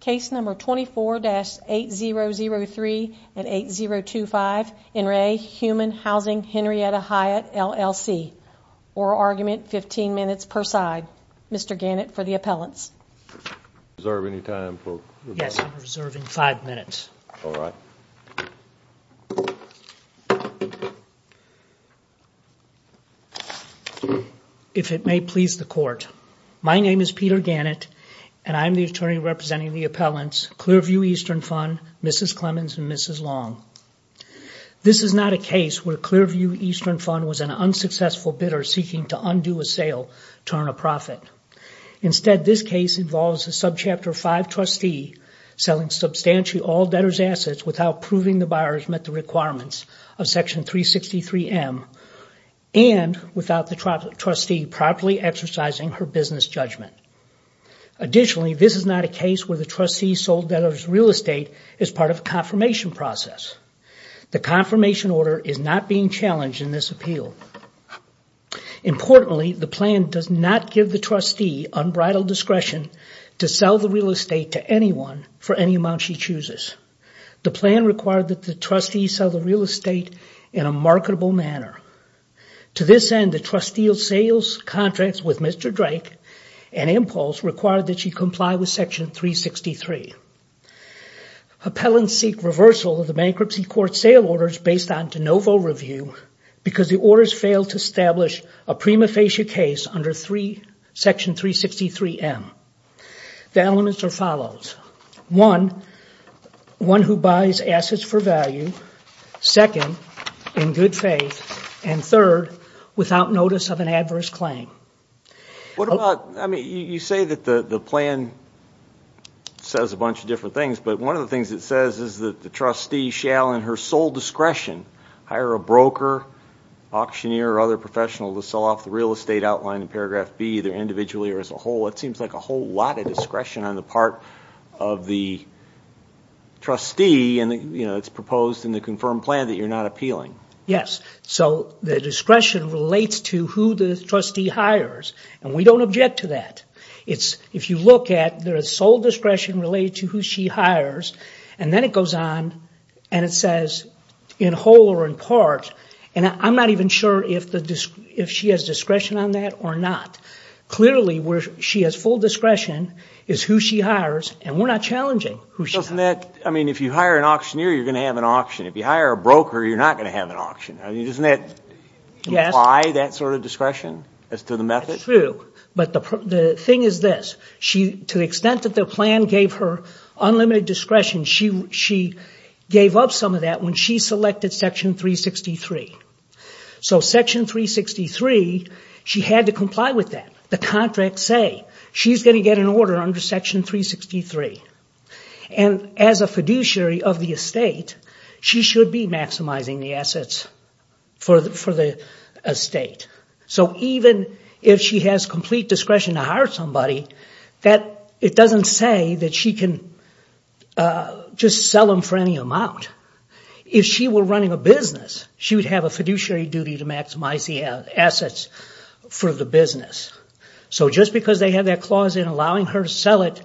Case number 24-8003-8025 In Re Human Housing Henrietta Hyatt LLC Oral argument, 15 minutes per side. Mr. Gannett for the appellants. Yes, I'm reserving five minutes. If it may please the court. My name is Peter Gannett, and I'm the attorney representing the appellants, Clearview Eastern Fund, Mrs. Clemmons, and Mrs. Long. This is not a case where Clearview Eastern Fund was an unsuccessful bidder seeking to undo a sale, turn a profit. Instead, this case involves a subchapter 5 trustee selling substantially all debtors' assets without proving the buyers met the requirements of section 363M and without the trustee properly exercising her business judgment. Additionally, this is not a case where the trustee sold debtors' real estate as part of a confirmation process. The confirmation order is not being challenged in this appeal. Importantly, the plan does not give the trustee unbridled discretion to sell the real estate to anyone for any amount she chooses. The plan required that the trustee sell the real estate in a marketable manner. To this end, the trustee of sales contracts with Mr. Drake and Impulse required that she comply with section 363. Appellants seek reversal of the bankruptcy court sale orders based on de novo review because the orders failed to establish a prima facie case under section 363M. The elements are as follows. One, one who buys assets for value. Second, in good faith. And third, without notice of an adverse claim. You say that the plan says a bunch of different things, but one of the things it says is that the trustee shall in her sole discretion hire a broker, auctioneer, or other professional to sell off the real estate outlined in paragraph B, either individually or as a whole. It seems like a whole lot of discretion on the part of the trustee, and it's proposed in the confirmed plan that you're not appealing. Yes, so the discretion relates to who the trustee hires, and we don't object to that. If you look at, there is sole discretion related to who she hires, and then it goes on and it says in whole or in part, and I'm not even sure if she has discretion on that or not. Clearly, where she has full discretion is who she hires, and we're not challenging who she hires. I mean, if you hire an auctioneer, you're going to have an auction. If you hire a broker, you're not going to have an auction. Doesn't that imply that sort of discretion as to the method? It's true, but the thing is this. To the extent that the plan gave her unlimited discretion, she gave up some of that when she selected section 363. So section 363, she had to comply with that. The contracts say she's going to get an order under section 363, and as a fiduciary of the estate, she should be maximizing the assets for the estate. So even if she has complete discretion to hire somebody, it doesn't say that she can just sell them for any amount. If she were running a business, she would have a fiduciary duty to maximize the assets for the business. So just because they have that clause in allowing her to sell it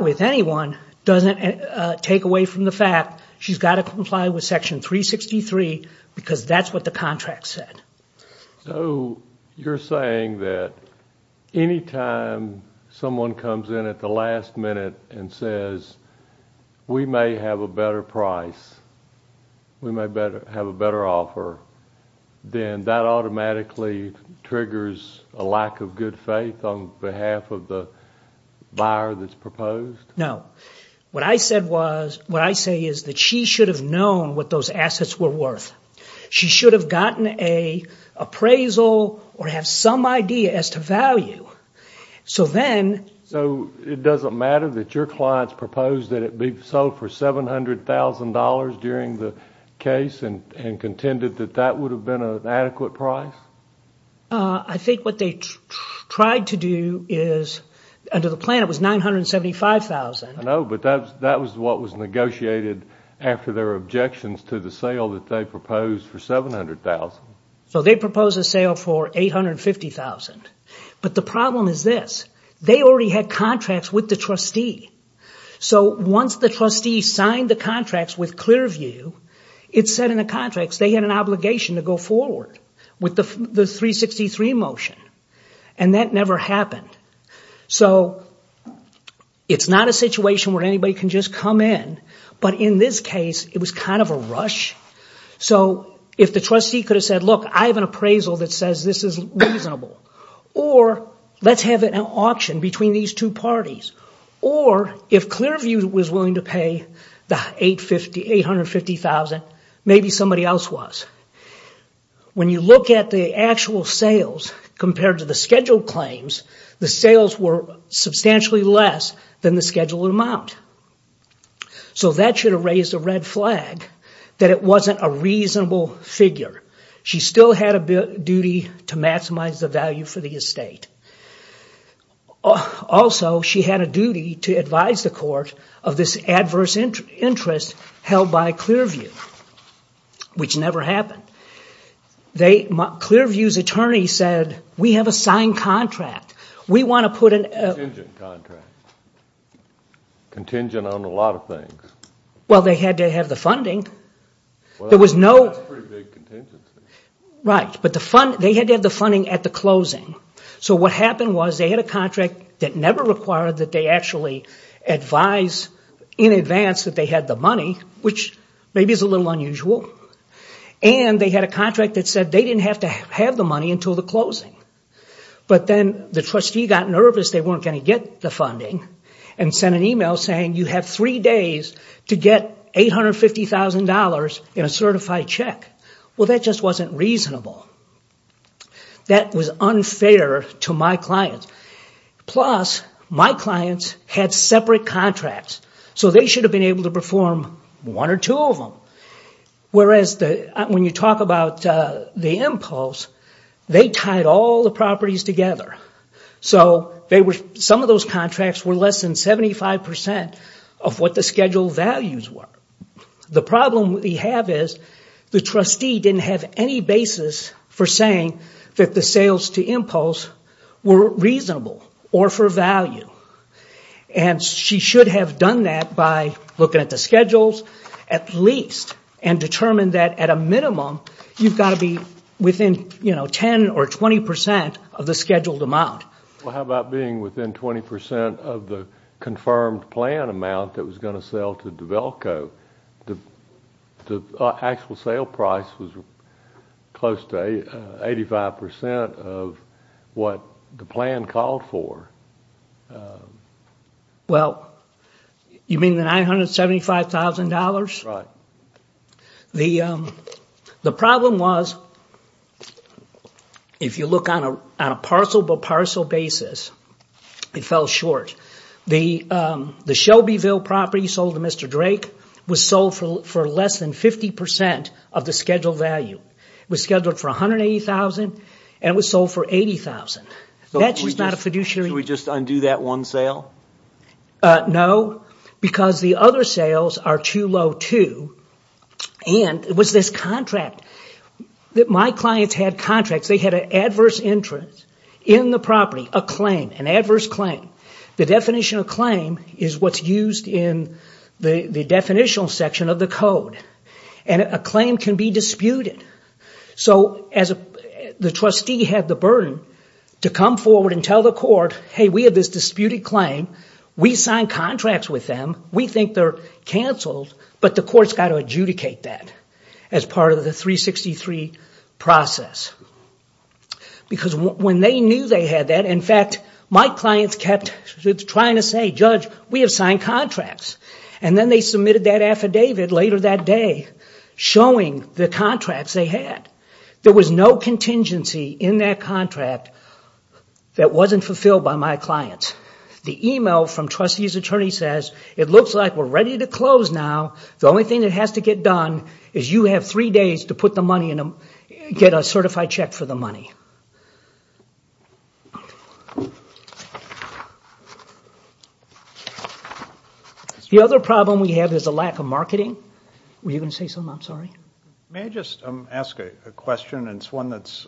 with anyone doesn't take away from the fact she's got to comply with section 363 because that's what the contract said. So you're saying that any time someone comes in at the last minute and says, we may have a better price, we may have a better offer, then that automatically triggers a lack of good faith on behalf of the buyer that's proposed? What I say is that she should have known what those assets were worth. She should have gotten an appraisal or have some idea as to value. So it doesn't matter that your clients proposed that it be sold for $700,000 during the case and contended that that would have been an adequate price? I think what they tried to do under the plan was $975,000. I know, but that was what was negotiated after their objections to the sale that they proposed for $700,000. So they proposed a sale for $850,000. But the problem is this. They already had contracts with the trustee. So once the trustee signed the contracts with Clearview, it said in the contracts they had an obligation to go forward with the 363 motion. And that never happened. So it's not a situation where anybody can just come in. But in this case, it was kind of a rush. So if the trustee could have said, look, I have an appraisal that says this is reasonable, or let's have an auction between these two parties, or if Clearview was willing to pay the $850,000, maybe somebody else was. When you look at the actual sales compared to the scheduled claims, the sales were substantially less than the scheduled amount. So that should have raised a red flag that it wasn't a reasonable figure. She still had a duty to maximize the value for the estate. Also, she had a duty to advise the court of this adverse interest held by Clearview, which never happened. Clearview's attorney said, we have a signed contract. Contingent contract. Contingent on a lot of things. Well, they had to have the funding. That's a pretty big contingency. Right. But they had to have the funding at the closing. So what happened was they had a contract that never required that they actually advise in advance that they had the money, which maybe is a little unusual. And they had a contract that said they didn't have to have the money until the closing. But then the trustee got nervous they weren't going to get the funding and sent an email saying you have three days to get $850,000 in a certified check. Well, that just wasn't reasonable. That was unfair to my clients. Plus, my clients had separate contracts. So they should have been able to perform one or two of them. Whereas when you talk about the impulse, they tied all the properties together. So some of those contracts were less than 75% of what the schedule values were. The problem we have is the trustee didn't have any basis for saying that the sales to impulse were reasonable or for value. And she should have done that by looking at the schedules at least and determined that at a minimum you've got to be within 10% or 20% of the scheduled amount. Well, how about being within 20% of the confirmed plan amount that was going to sell to DeVelco? The actual sale price was close to 85% of what the plan called for. Well, you mean the $975,000? Right. The problem was if you look on a parcel by parcel basis, it fell short. The Shelbyville property sold to Mr. Drake was sold for less than 50% of the scheduled value. It was scheduled for $180,000 and was sold for $80,000. That's just not a fiduciary... Should we just undo that one sale? No, because the other sales are too low too. And it was this contract. My clients had contracts. They had an adverse interest in the property, a claim, an adverse claim. The definition of claim is what's used in the definitional section of the code. And a claim can be disputed. So the trustee had the burden to come forward and tell the court, hey, we have this disputed claim. We signed contracts with them. We think they're canceled. But the court's got to adjudicate that as part of the 363 process. Because when they knew they had that, in fact, my clients kept trying to say, judge, we have signed contracts. And then they submitted that affidavit later that day showing the contracts they had. There was no contingency in that contract that wasn't fulfilled by my clients. The email from trustee's attorney says, it looks like we're ready to close now. The only thing that has to get done is you have three days to put the money in, get a certified check for the money. The other problem we have is a lack of marketing. Were you going to say something? I'm sorry. May I just ask a question? It's one that's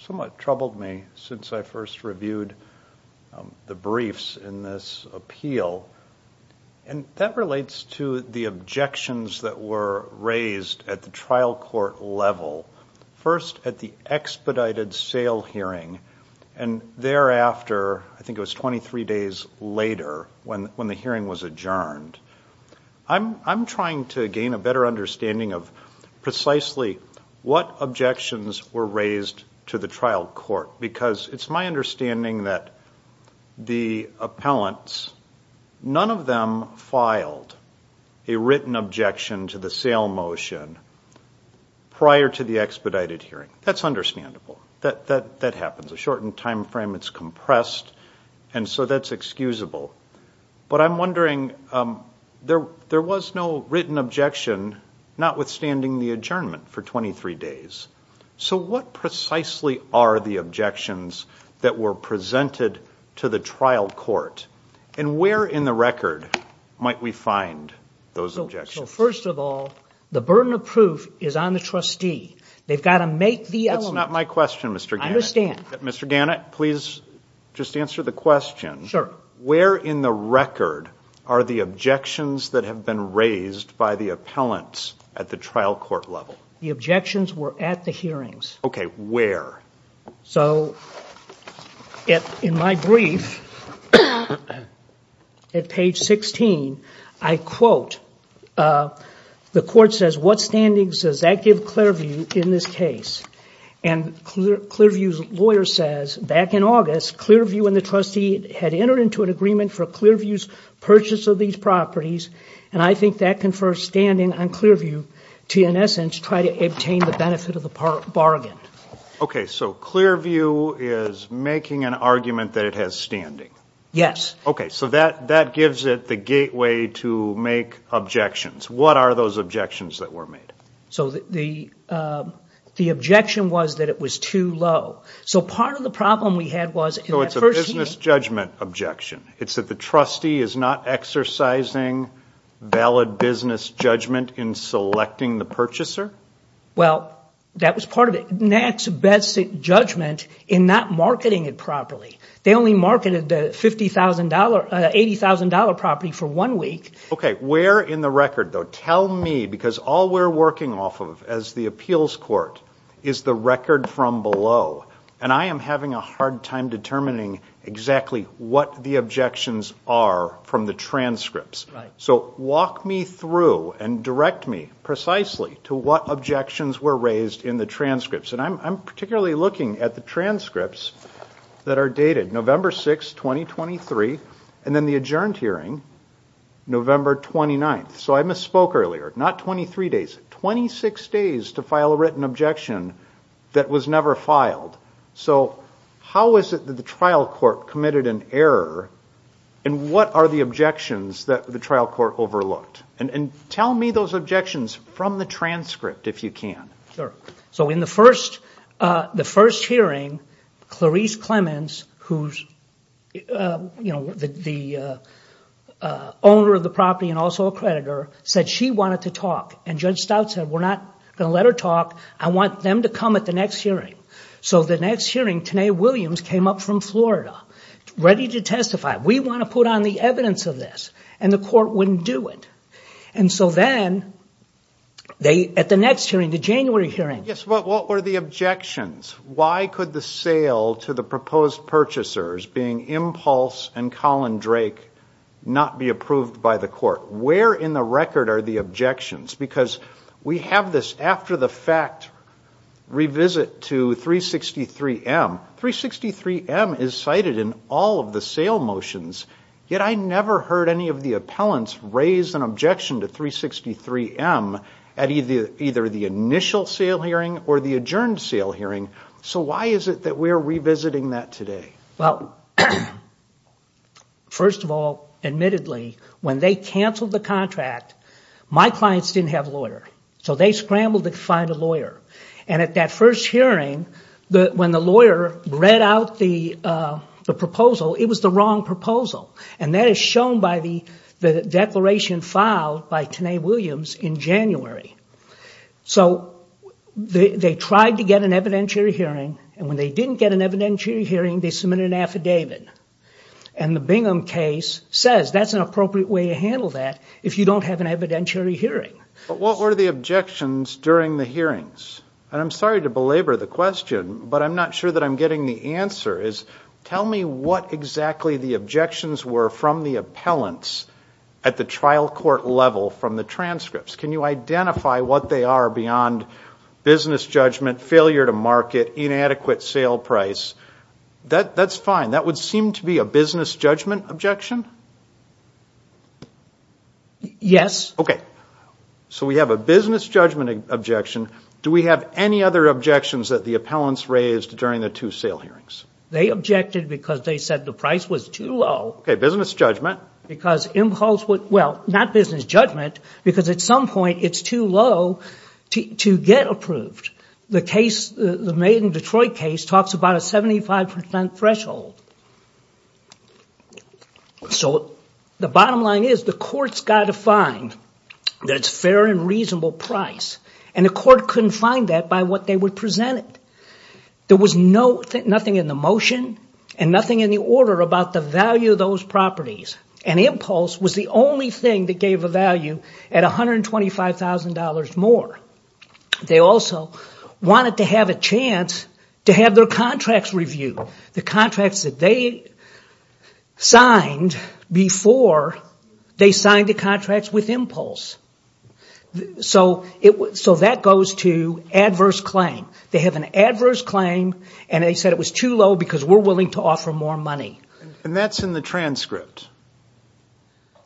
somewhat troubled me since I first reviewed the briefs in this appeal. And that relates to the objections that were raised at the trial court level. First, at the expedited sale hearing. And thereafter, I think it was 23 days later when the hearing was adjourned. I'm trying to gain a better understanding of precisely what objections were raised to the trial court. Because it's my understanding that the appellants, none of them filed a written objection to the sale motion prior to the expedited hearing. That's understandable. That happens. A shortened time frame, it's compressed. And so that's excusable. But I'm wondering, there was no written objection notwithstanding the adjournment for 23 days. So what precisely are the objections that were presented to the trial court? And where in the record might we find those objections? First of all, the burden of proof is on the trustee. They've got to make the element. That's not my question, Mr. Gannett. I understand. Mr. Gannett, please just answer the question. Sure. Where in the record are the objections that have been raised by the appellants at the trial court level? The objections were at the hearings. Okay. Where? So in my brief, at page 16, I quote, the court says, what standings does that give Clearview in this case? And Clearview's lawyer says, back in August, Clearview and the trustee had entered into an agreement for Clearview's purchase of these properties, and I think that confers standing on Clearview to, in essence, try to obtain the benefit of the bargain. Okay. So Clearview is making an argument that it has standing? Yes. Okay. So that gives it the gateway to make objections. What are those objections that were made? So the objection was that it was too low. So part of the problem we had was in that first hearing. So it's a business judgment objection. It's that the trustee is not exercising valid business judgment in selecting the purchaser? Well, that was part of it. Nat's best judgment in not marketing it properly. They only marketed the $80,000 property for one week. Okay. Where in the record, though? Tell me, because all we're working off of as the appeals court is the record from below, and I am having a hard time determining exactly what the objections are from the transcripts. So walk me through and direct me precisely to what objections were raised in the transcripts. And I'm particularly looking at the transcripts that are dated November 6, 2023, and then the adjourned hearing November 29. So I misspoke earlier. Not 23 days, 26 days to file a written objection that was never filed. So how is it that the trial court committed an error, and what are the objections that the trial court overlooked? And tell me those objections from the transcript, if you can. Sure. So in the first hearing, Clarice Clemens, who's the owner of the property and also a creditor, said she wanted to talk. And Judge Stout said, we're not going to let her talk. I want them to come at the next hearing. So the next hearing, Tanae Williams came up from Florida ready to testify. We want to put on the evidence of this. And the court wouldn't do it. And so then, at the next hearing, the January hearing. Yes, but what were the objections? Why could the sale to the proposed purchasers, being Impulse and Colin Drake, not be approved by the court? Where in the record are the objections? Because we have this after-the-fact revisit to 363M. Now, 363M is cited in all of the sale motions. Yet I never heard any of the appellants raise an objection to 363M at either the initial sale hearing or the adjourned sale hearing. So why is it that we're revisiting that today? Well, first of all, admittedly, when they canceled the contract, my clients didn't have a lawyer. So they scrambled to find a lawyer. And at that first hearing, when the lawyer read out the proposal, it was the wrong proposal. And that is shown by the declaration filed by Tanae Williams in January. So they tried to get an evidentiary hearing. And when they didn't get an evidentiary hearing, they submitted an affidavit. And the Bingham case says that's an appropriate way to handle that if you don't have an evidentiary hearing. But what were the objections during the hearings? And I'm sorry to belabor the question, but I'm not sure that I'm getting the answer. Tell me what exactly the objections were from the appellants at the trial court level from the transcripts. Can you identify what they are beyond business judgment, failure to market, inadequate sale price? That's fine. That would seem to be a business judgment objection? Yes. Okay. So we have a business judgment objection. Do we have any other objections that the appellants raised during the two sale hearings? They objected because they said the price was too low. Okay, business judgment. Well, not business judgment, because at some point it's too low to get approved. The case, the Maiden Detroit case, talks about a 75% threshold. So the bottom line is the court's got to find that it's fair and reasonable price. And the court couldn't find that by what they were presented. There was nothing in the motion and nothing in the order about the value of those properties. And impulse was the only thing that gave a value at $125,000 more. They also wanted to have a chance to have their contracts reviewed. The contracts that they signed before, they signed the contracts with impulse. So that goes to adverse claim. They have an adverse claim, and they said it was too low because we're willing to offer more money. And that's in the transcript.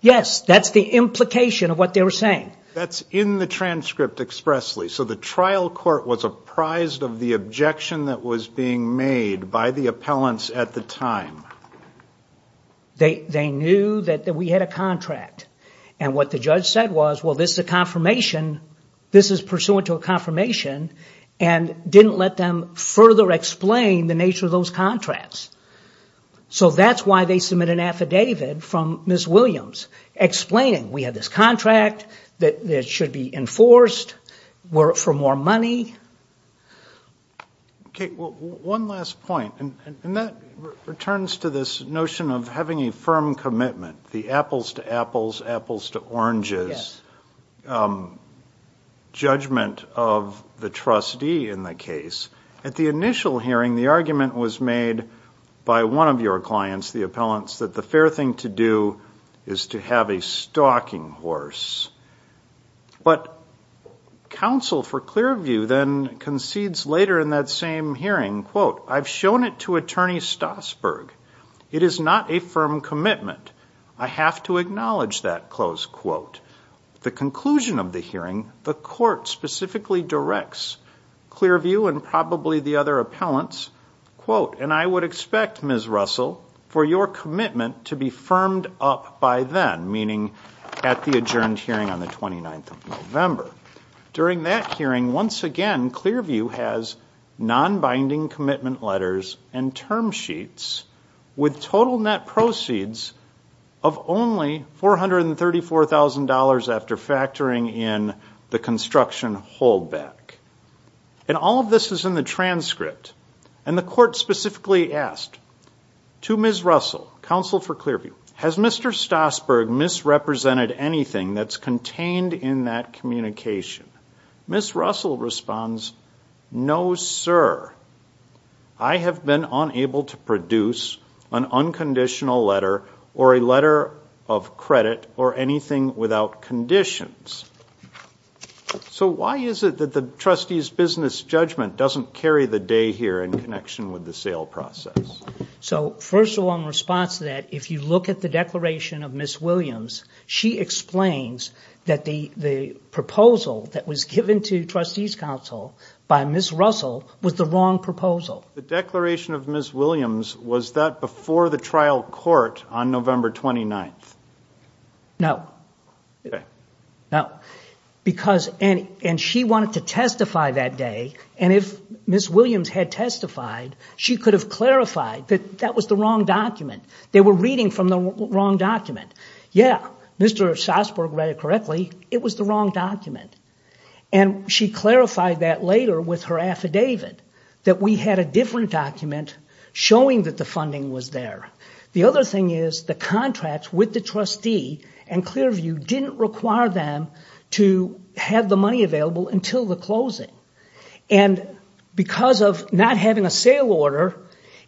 Yes, that's the implication of what they were saying. That's in the transcript expressly. Okay, so the trial court was apprised of the objection that was being made by the appellants at the time. They knew that we had a contract. And what the judge said was, well, this is a confirmation, this is pursuant to a confirmation, and didn't let them further explain the nature of those contracts. So that's why they submit an affidavit from Ms. Williams explaining, we have this contract that should be enforced for more money. Okay, well, one last point, and that returns to this notion of having a firm commitment, the apples to apples, apples to oranges judgment of the trustee in the case. At the initial hearing, the argument was made by one of your clients, the appellants, that the fair thing to do is to have a stalking horse. But counsel for Clearview then concedes later in that same hearing, quote, I've shown it to Attorney Stasberg. It is not a firm commitment. I have to acknowledge that, close quote. The conclusion of the hearing, the court specifically directs Clearview and probably the other appellants, quote, and I would expect, Ms. Russell, for your commitment to be firmed up by then, meaning at the adjourned hearing on the 29th of November. During that hearing, once again, Clearview has nonbinding commitment letters and term sheets with total net proceeds of only $434,000 after factoring in the construction holdback. And all of this is in the transcript. And the court specifically asked to Ms. Russell, counsel for Clearview, has Mr. Stasberg misrepresented anything that's contained in that communication? Ms. Russell responds, no, sir. I have been unable to produce an unconditional letter or a letter of credit or anything without conditions. So why is it that the trustees' business judgment doesn't carry the day here in connection with the sale process? So first of all, in response to that, if you look at the declaration of Ms. Williams, she explains that the proposal that was given to trustees' counsel by Ms. Russell was the wrong proposal. The declaration of Ms. Williams, was that before the trial court on November 29th? No. And she wanted to testify that day. And if Ms. Williams had testified, she could have clarified that that was the wrong document. They were reading from the wrong document. Yeah, Mr. Stasberg read it correctly. It was the wrong document. And she clarified that later with her affidavit, that we had a different document showing that the funding was there. The other thing is, the contracts with the trustee and Clearview didn't require them to have the money available until the closing. And because of not having a sale order,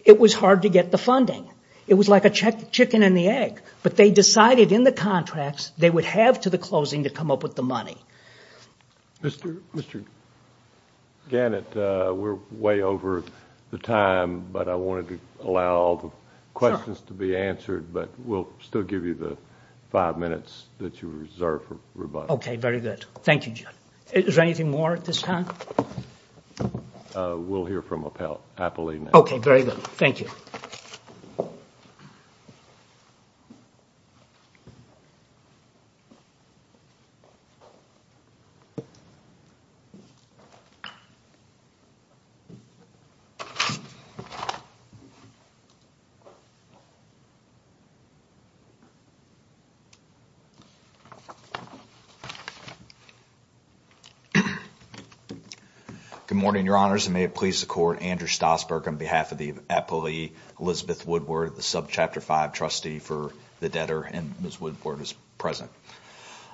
it was hard to get the funding. It was like a chicken and the egg. But they decided in the contracts they would have to the closing to come up with the money. Mr. Gannett, we're way over the time, but I wanted to allow all the questions to be answered. But we'll still give you the five minutes that you reserve for rebuttal. Okay, very good. Thank you, Jim. Is there anything more at this time? We'll hear from Apollina. Okay, very good. Thank you. Thank you. Good morning, Your Honors, and may it please the Court, Andrew Stasberg on behalf of the appealee Elizabeth Woodward, the subchapter five trustee for the debtor, and Ms. Woodward is present.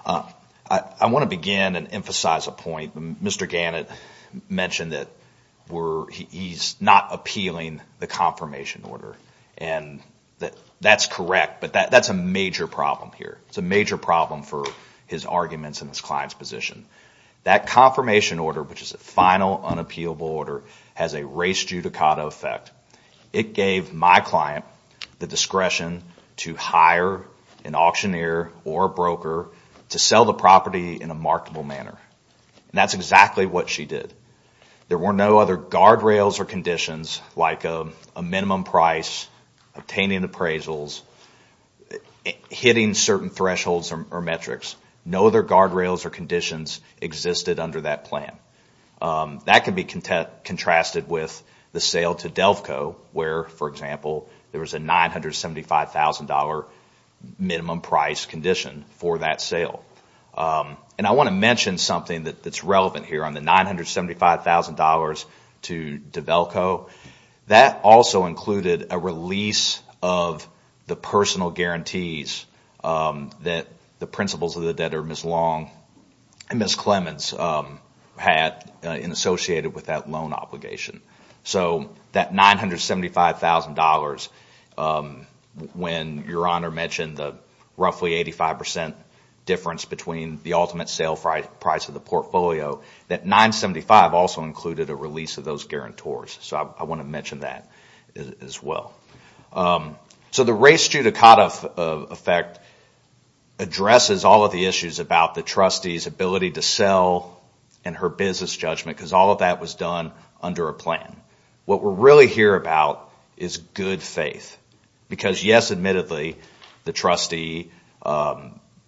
I want to begin and emphasize a point. Mr. Gannett mentioned that he's not appealing the confirmation order. And that's correct, but that's a major problem here. It's a major problem for his arguments and his client's position. That confirmation order, which is a final unappealable order, has a race judicata effect. It gave my client the discretion to hire an auctioneer or a broker to sell the property in a marketable manner. And that's exactly what she did. There were no other guardrails or conditions like a minimum price, obtaining appraisals, hitting certain thresholds or metrics. No other guardrails or conditions existed under that plan. That can be contrasted with the sale to Delco where, for example, there was a $975,000 minimum price condition for that sale. And I want to mention something that's relevant here on the $975,000 to DeVelco. That also included a release of the personal guarantees that the principals of the debtor, Ms. Long and Ms. Clemens, had associated with that loan obligation. So that $975,000, when Your Honor mentioned the roughly 85% difference between the ultimate sale price of the portfolio, that $975,000 also included a release of those guarantors. So I want to mention that as well. So the race judicata effect addresses all of the issues about the trustee's ability to sell and her business judgment because all of that was done under a plan. What we're really here about is good faith. Because yes, admittedly, the trustee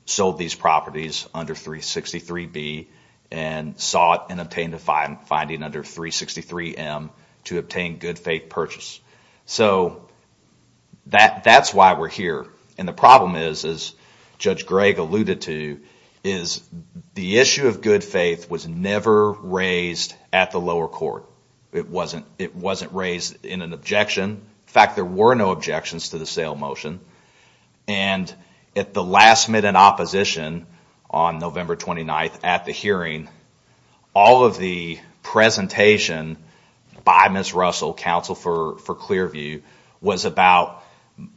sold these properties under 363B and sought and obtained a finding under 363M to obtain good faith purchase. So that's why we're here. And the problem is, as Judge Gregg alluded to, is the issue of good faith was never raised at the lower court. It wasn't raised in an objection. In fact, there were no objections to the sale motion. And at the last minute opposition on November 29th at the hearing, all of the presentation by Ms. Russell, counsel for Clearview, was about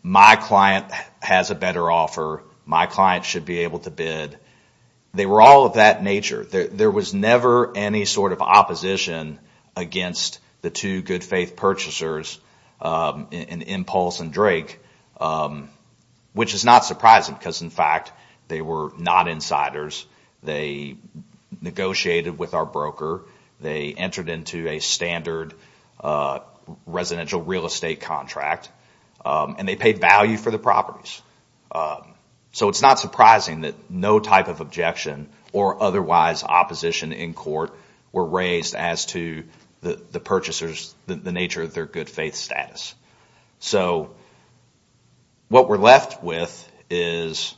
my client has a better offer, my client should be able to bid. They were all of that nature. There was never any sort of opposition against the two good faith purchasers, Impulse and Drake, which is not surprising. Because in fact, they were not insiders. They negotiated with our broker. They entered into a standard residential real estate contract. And they paid value for the properties. So it's not surprising that no type of objection or otherwise opposition in court were raised as to the purchasers, the nature of their good faith status. So what we're left with is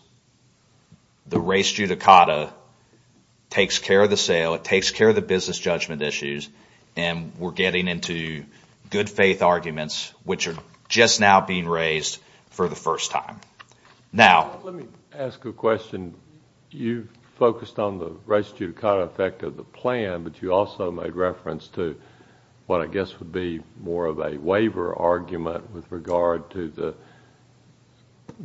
the race judicata takes care of the sale. It takes care of the business judgment issues. And we're getting into good faith arguments, which are just now being raised for the first time. Now... Let me ask a question. You focused on the race judicata effect of the plan, but you also made reference to what I guess would be more of a waiver argument with regard to the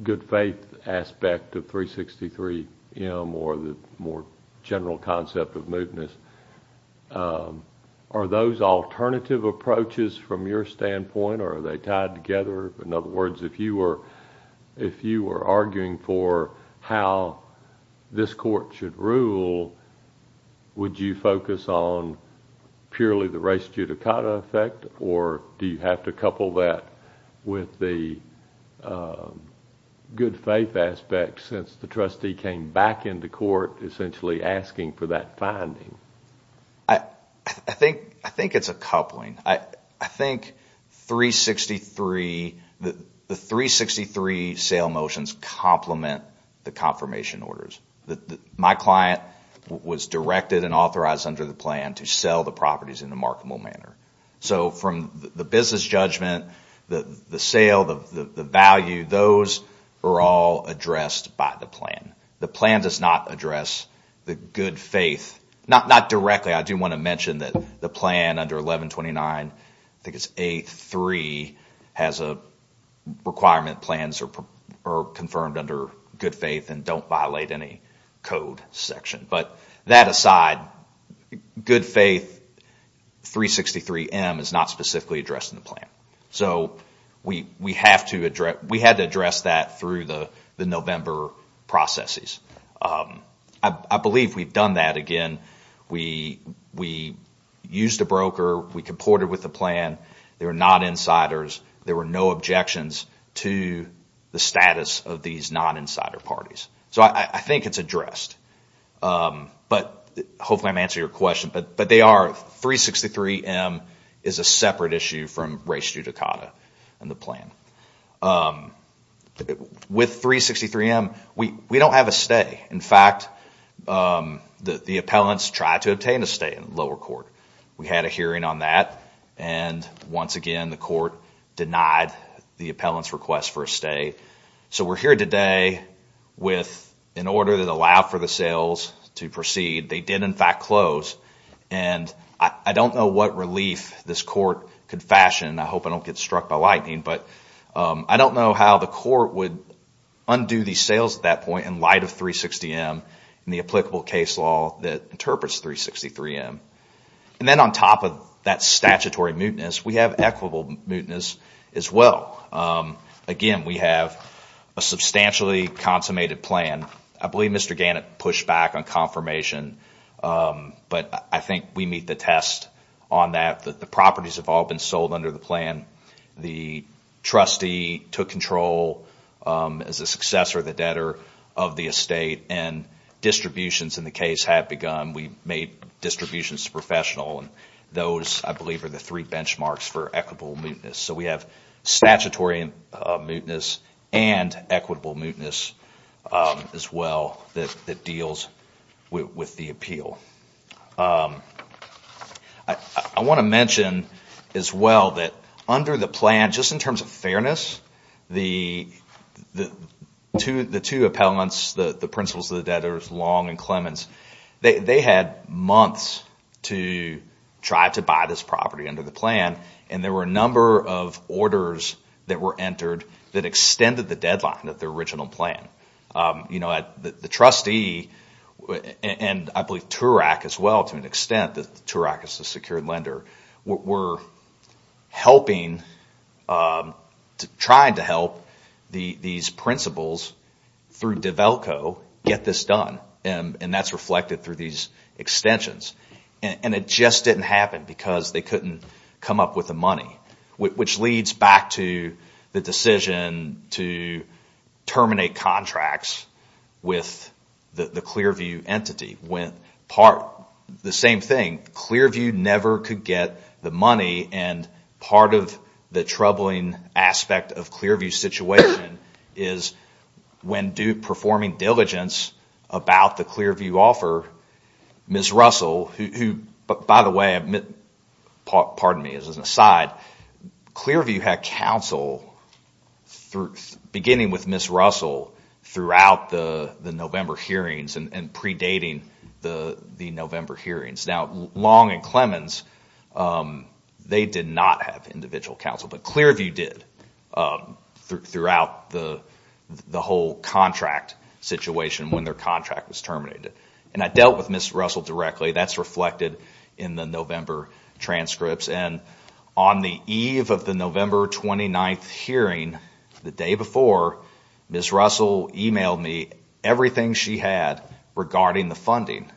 good faith aspect of 363M or the more general concept of mootness. Are those alternative approaches from your standpoint, or are they tied together? In other words, if you were arguing for how this court should rule, would you focus on purely the race judicata effect, or do you have to couple that with the good faith aspect since the trustee came back into court essentially asking for that finding? I think it's a coupling. I think the 363 sale motions complement the confirmation orders. My client was directed and authorized under the plan to sell the properties in a marketable manner. So from the business judgment, the sale, the value, those are all addressed by the plan. The plan does not address the good faith. Not directly. I do want to mention that the plan under 1129, I think it's 8-3, has a requirement plans are confirmed under good faith and don't violate any code section. But that aside, good faith 363M is not specifically addressed in the plan. So we had to address that through the November processes. I believe we've done that again. We used a broker. We comported with the plan. They were not insiders. There were no objections to the status of these non-insider parties. So I think it's addressed. Hopefully I'm answering your question. But they are. 363M is a separate issue from race judicata in the plan. With 363M, we don't have a stay. In fact, the appellants tried to obtain a stay in lower court. We had a hearing on that. And once again, the court denied the appellant's request for a stay. So we're here today with an order that allowed for the sales to proceed. They did, in fact, close. And I don't know what relief this court could fashion. I hope I don't get struck by lightning. But I don't know how the court would undo the sales at that point in light of 360M and the applicable case law that interprets 363M. And then on top of that statutory mootness, we have equitable mootness as well. Again, we have a substantially consummated plan. I believe Mr. Gannett pushed back on confirmation. But I think we meet the test on that. The properties have all been sold under the plan. The trustee took control as a successor of the debtor of the estate. And distributions in the case have begun. We made distributions to professional. And those, I believe, are the three benchmarks for equitable mootness. So we have statutory mootness and equitable mootness as well that deals with the appeal. I want to mention as well that under the plan, just in terms of fairness, the two appellants, the principals of the debtors, Long and Clemens, they had months to try to buy this property under the plan. And there were a number of orders that were entered that extended the deadline of the original plan. The trustee, and I believe TURAC as well, to an extent, TURAC is the secured lender, were helping, trying to help these principals through DEVELCO get this done. And that's reflected through these extensions. And it just didn't happen because they couldn't come up with the money. Which leads back to the decision to terminate contracts with the Clearview entity. The same thing, Clearview never could get the money. And part of the troubling aspect of Clearview's situation is when Duke, performing diligence about the Clearview offer, Ms. Russell, who by the way, pardon me as an aside, Clearview had counsel beginning with Ms. Russell throughout the November hearings and predating the November hearings. Now Long and Clemens, they did not have individual counsel. But Clearview did throughout the whole contract situation when their contract was terminated. And I dealt with Ms. Russell directly, that's reflected in the November transcripts. And on the eve of the November 29th hearing, the day before, Ms. Russell emailed me everything she had regarding the funding.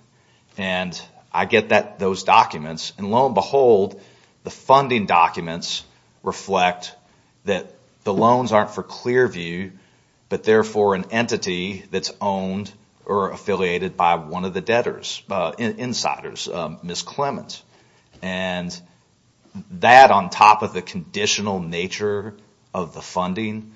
And I get those documents. And lo and behold, the funding documents reflect that the loans aren't for Clearview, but they're for an entity that's owned or affiliated by one of the debtors, insiders, Ms. Clemens. And that on top of the conditional nature of the funding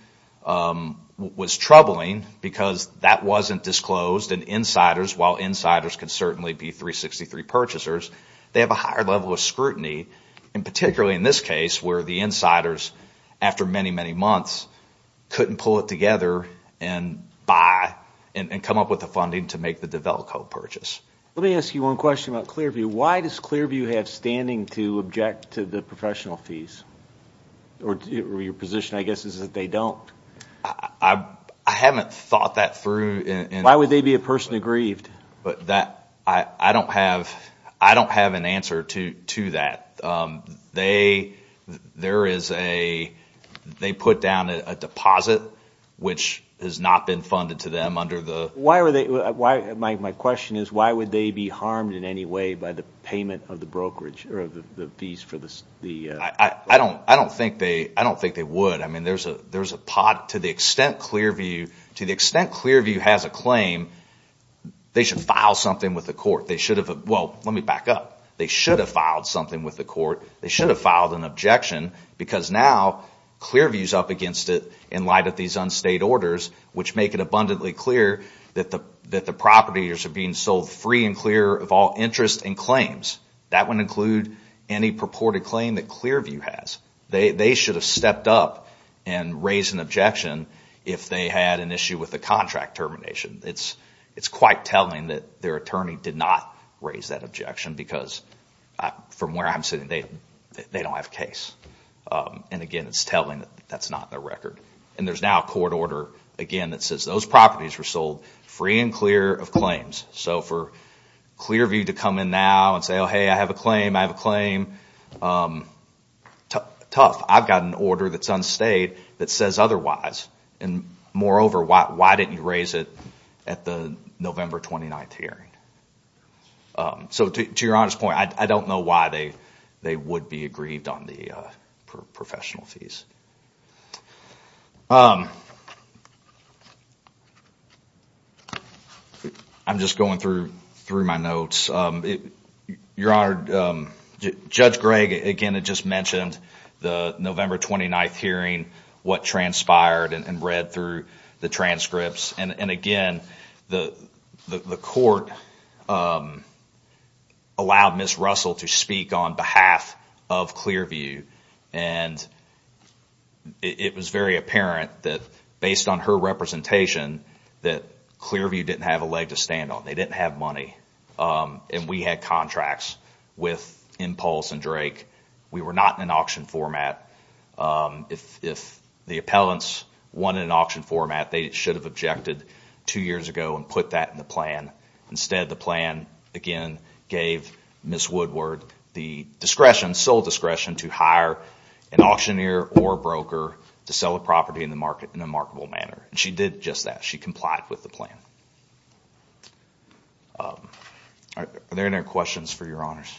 was troubling because that wasn't disclosed. And insiders, while insiders can certainly be 363 purchasers, they have a higher level of scrutiny. And particularly in this case where the insiders, after many, many months, couldn't pull it together and buy and come up with the funding to make the DeVelco purchase. Let me ask you one question about Clearview. Why does Clearview have standing to object to the professional fees? Or your position I guess is that they don't. I haven't thought that through. Why would they be a person aggrieved? I don't have an answer to that. They put down a deposit which has not been funded to them under the- My question is why would they be harmed in any way by the payment of the brokerage, or the fees for the- I don't think they would. To the extent Clearview has a claim, they should file something with the court. They should have- Well, let me back up. They should have filed something with the court. They should have filed an objection because now Clearview is up against it in light of these unstayed orders which make it abundantly clear that the properties are being sold free and clear of all interest and claims. That would include any purported claim that Clearview has. They should have stepped up and raised an objection if they had an issue with the contract termination. It's quite telling that their attorney did not raise that objection because from where I'm sitting, they don't have a case. Again, it's telling that that's not their record. There's now a court order, again, that says those properties were sold free and clear of claims. For Clearview to come in now and say, hey, I have a claim, I have a claim, tough. I've got an order that's unstayed that says otherwise. Moreover, why didn't you raise it at the November 29th hearing? To your honest point, I don't know why they would be aggrieved on the professional fees. I'm just going through my notes. Your Honor, Judge Gregg, again, had just mentioned the November 29th hearing, what transpired and read through the transcripts. Again, the court allowed Ms. Russell to speak on behalf of Clearview. It was very apparent that based on her representation that Clearview didn't have a leg to stand on. They didn't have money. We had contracts with Impulse and Drake. We were not in an auction format. If the appellants won in an auction format, they should have objected two years ago and put that in the plan. Instead, the plan, again, gave Ms. Woodward the discretion, sole discretion, to hire an auctioneer or a broker to sell a property in a marketable manner. She did just that. She complied with the plan. Are there any questions for Your Honors?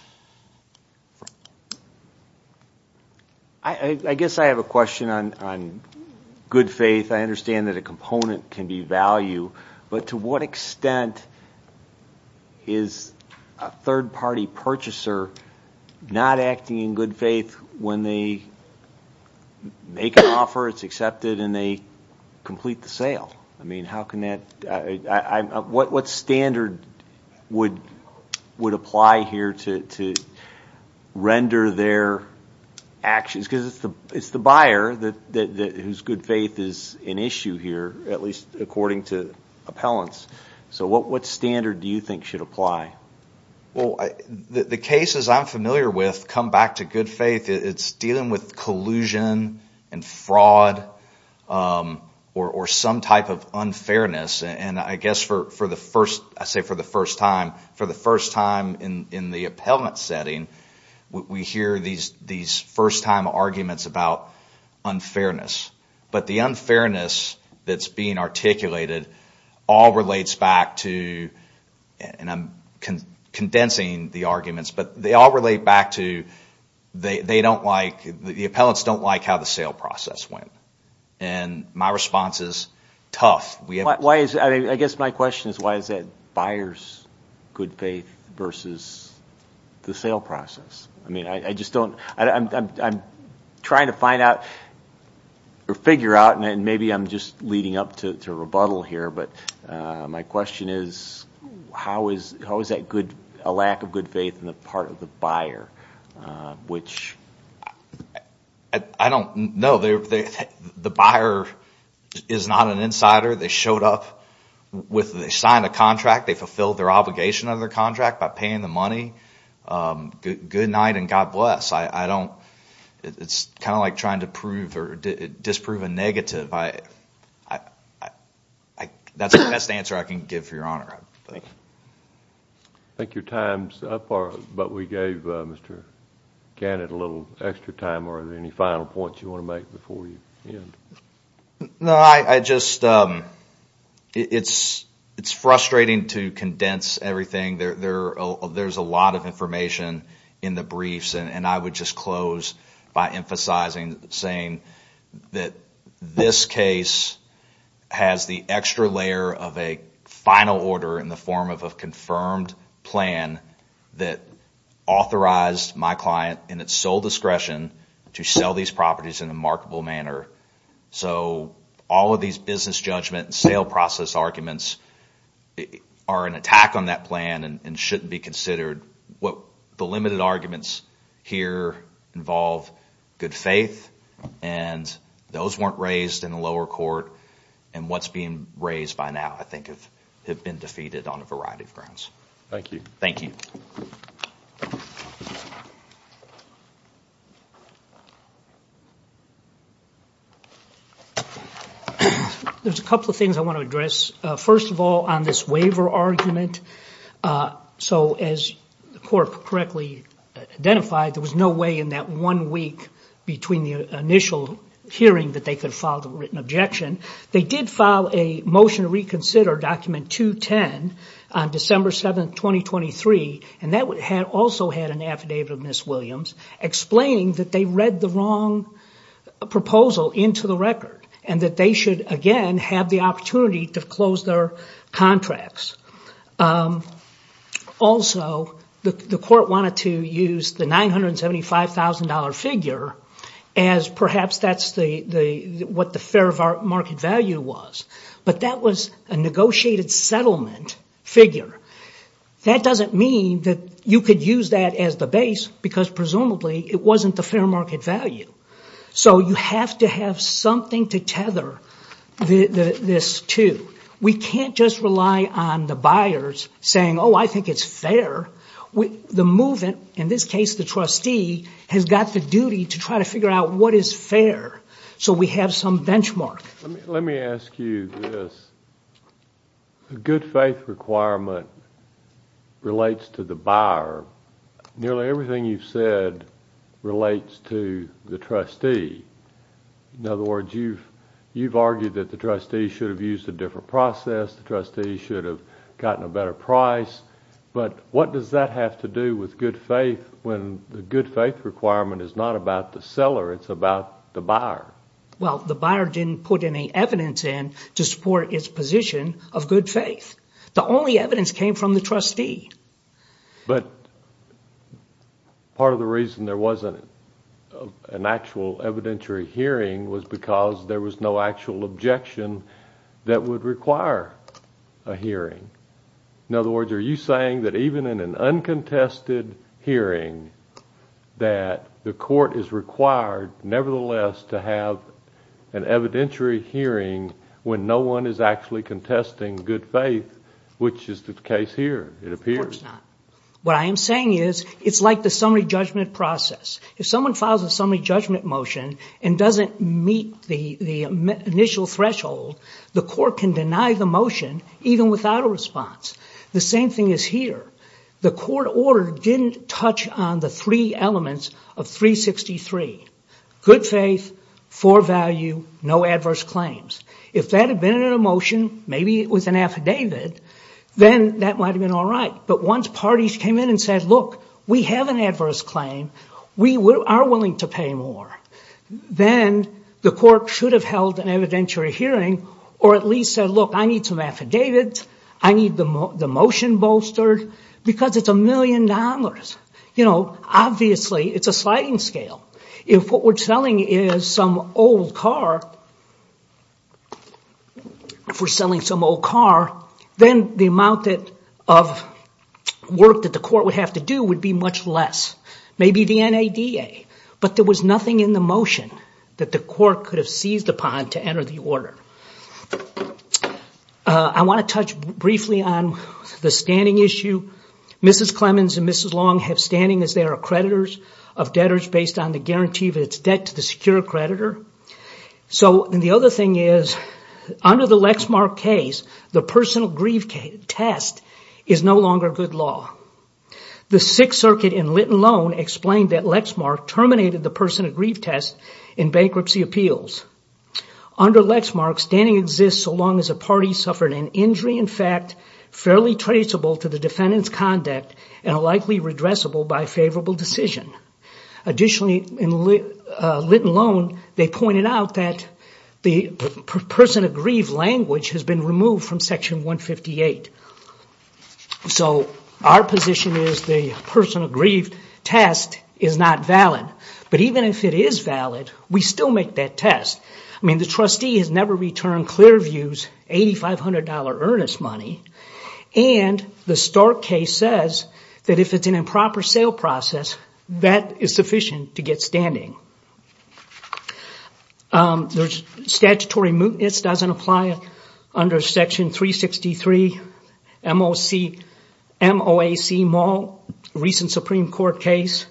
I guess I have a question on good faith. I understand that a component can be value, but to what extent is a third-party purchaser not acting in good faith when they make an offer, it's accepted, and they complete the sale? What standard would apply here to render their actions? It's the buyer whose good faith is an issue here, at least according to appellants. What standard do you think should apply? The cases I'm familiar with come back to good faith. It's dealing with collusion and fraud or some type of unfairness. I guess for the first time in the appellant setting, we hear these first-time arguments about unfairness. But the unfairness that's being articulated all relates back to, and I'm condensing the arguments, but they all relate back to the appellants don't like how the sale process went. My response is tough. I guess my question is why is it buyers' good faith versus the sale process? I'm trying to figure out, and maybe I'm just leading up to rebuttal here, but my question is how is a lack of good faith on the part of the buyer? No, the buyer is not an insider. They showed up. They signed a contract. They fulfilled their obligation under the contract by paying the money. Good night and God bless. It's kind of like trying to disprove a negative. That's the best answer I can give for your honor. I think your time is up, but we gave Mr. Gannett a little extra time. Are there any final points you want to make before you end? No, it's frustrating to condense everything. There's a lot of information in the briefs, and I would just close by emphasizing saying that this case has the extra layer of a final order in the form of a confirmed plan that authorized my client in its sole discretion to sell these properties in a marketable manner. So all of these business judgment and sale process arguments are an attack on that plan and shouldn't be considered. The limited arguments here involve good faith, and those weren't raised in the lower court, and what's being raised by now I think have been defeated on a variety of grounds. Thank you. Thank you. There's a couple of things I want to address. First of all, on this waiver argument. So as the court correctly identified, there was no way in that one week between the initial hearing that they could file the written objection. They did file a motion to reconsider document 210 on December 7, 2023, and that also had an affidavit of Ms. Williams explaining that they read the wrong proposal into the record and that they should again have the opportunity to close their contracts. Also, the court wanted to use the $975,000 figure as perhaps that's what the fair market value was, but that was a negotiated settlement figure. That doesn't mean that you could use that as the base because presumably it wasn't the fair market value. So you have to have something to tether this to. We can't just rely on the buyers saying, oh, I think it's fair. The movement, in this case the trustee, has got the duty to try to figure out what is fair so we have some benchmark. Let me ask you this. A good faith requirement relates to the buyer. Nearly everything you've said relates to the trustee. In other words, you've argued that the trustee should have used a different process, the trustee should have gotten a better price, but what does that have to do with good faith when the good faith requirement is not about the seller, it's about the buyer? Well, the buyer didn't put any evidence in to support its position of good faith. The only evidence came from the trustee. But part of the reason there wasn't an actual evidentiary hearing was because there was no actual objection that would require a hearing. In other words, are you saying that even in an uncontested hearing that the court is required nevertheless to have an evidentiary hearing when no one is actually contesting good faith, which is the case here, it appears? What I am saying is it's like the summary judgment process. If someone files a summary judgment motion and doesn't meet the initial threshold, the court can deny the motion even without a response. The same thing is here. The court order didn't touch on the three elements of 363, good faith, for value, no adverse claims. If that had been in a motion, maybe it was an affidavit, then that might have been all right. But once parties came in and said, look, we have an adverse claim, we are willing to pay more, then the court should have held an evidentiary hearing or at least said, look, I need some affidavits, I need the motion bolstered, because it's a million dollars. Obviously, it's a sliding scale. If what we are selling is some old car, then the amount of work that the court would have to do would be much less. Maybe the NADA, but there was nothing in the motion that the court could have seized upon to enter the order. I want to touch briefly on the standing issue. Mrs. Clemens and Mrs. Long have standing as their accreditors of debtors based on the guarantee of its debt to the secure creditor. The other thing is, under the Lexmark case, the personal grief test is no longer good law. The Sixth Circuit in Litton Loan explained that Lexmark terminated the personal grief test in bankruptcy appeals. Under Lexmark, standing exists so long as a party suffered an injury in fact fairly traceable to the defendant's conduct and likely redressable by favorable decision. Additionally, in Litton Loan, they pointed out that the personal grief language has been removed from Section 158. Our position is the personal grief test is not valid. But even if it is valid, we still make that test. The trustee has never returned Clearview's $8,500 earnest money, and the Stark case says that if it's an improper sale process, that is sufficient to get standing. Statutory mootness doesn't apply under Section 363, MOAC mall, recent Supreme Court case.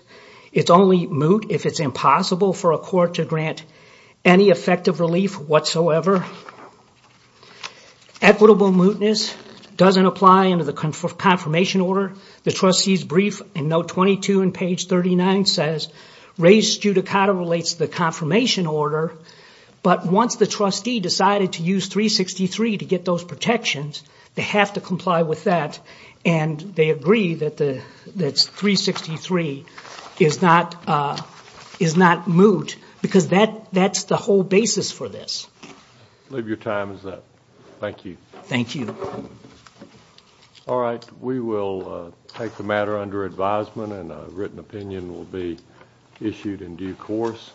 It's only moot if it's impossible for a court to grant any effective relief whatsoever. Equitable mootness doesn't apply under the confirmation order. The trustee's brief in note 22 and page 39 says, raised studicata relates to the confirmation order, but once the trustee decided to use 363 to get those protections, they have to comply with that, and they agree that 363 is not moot, because that's the whole basis for this. I believe your time is up. Thank you. Thank you. All right. We will take the matter under advisement, and a written opinion will be issued in due course.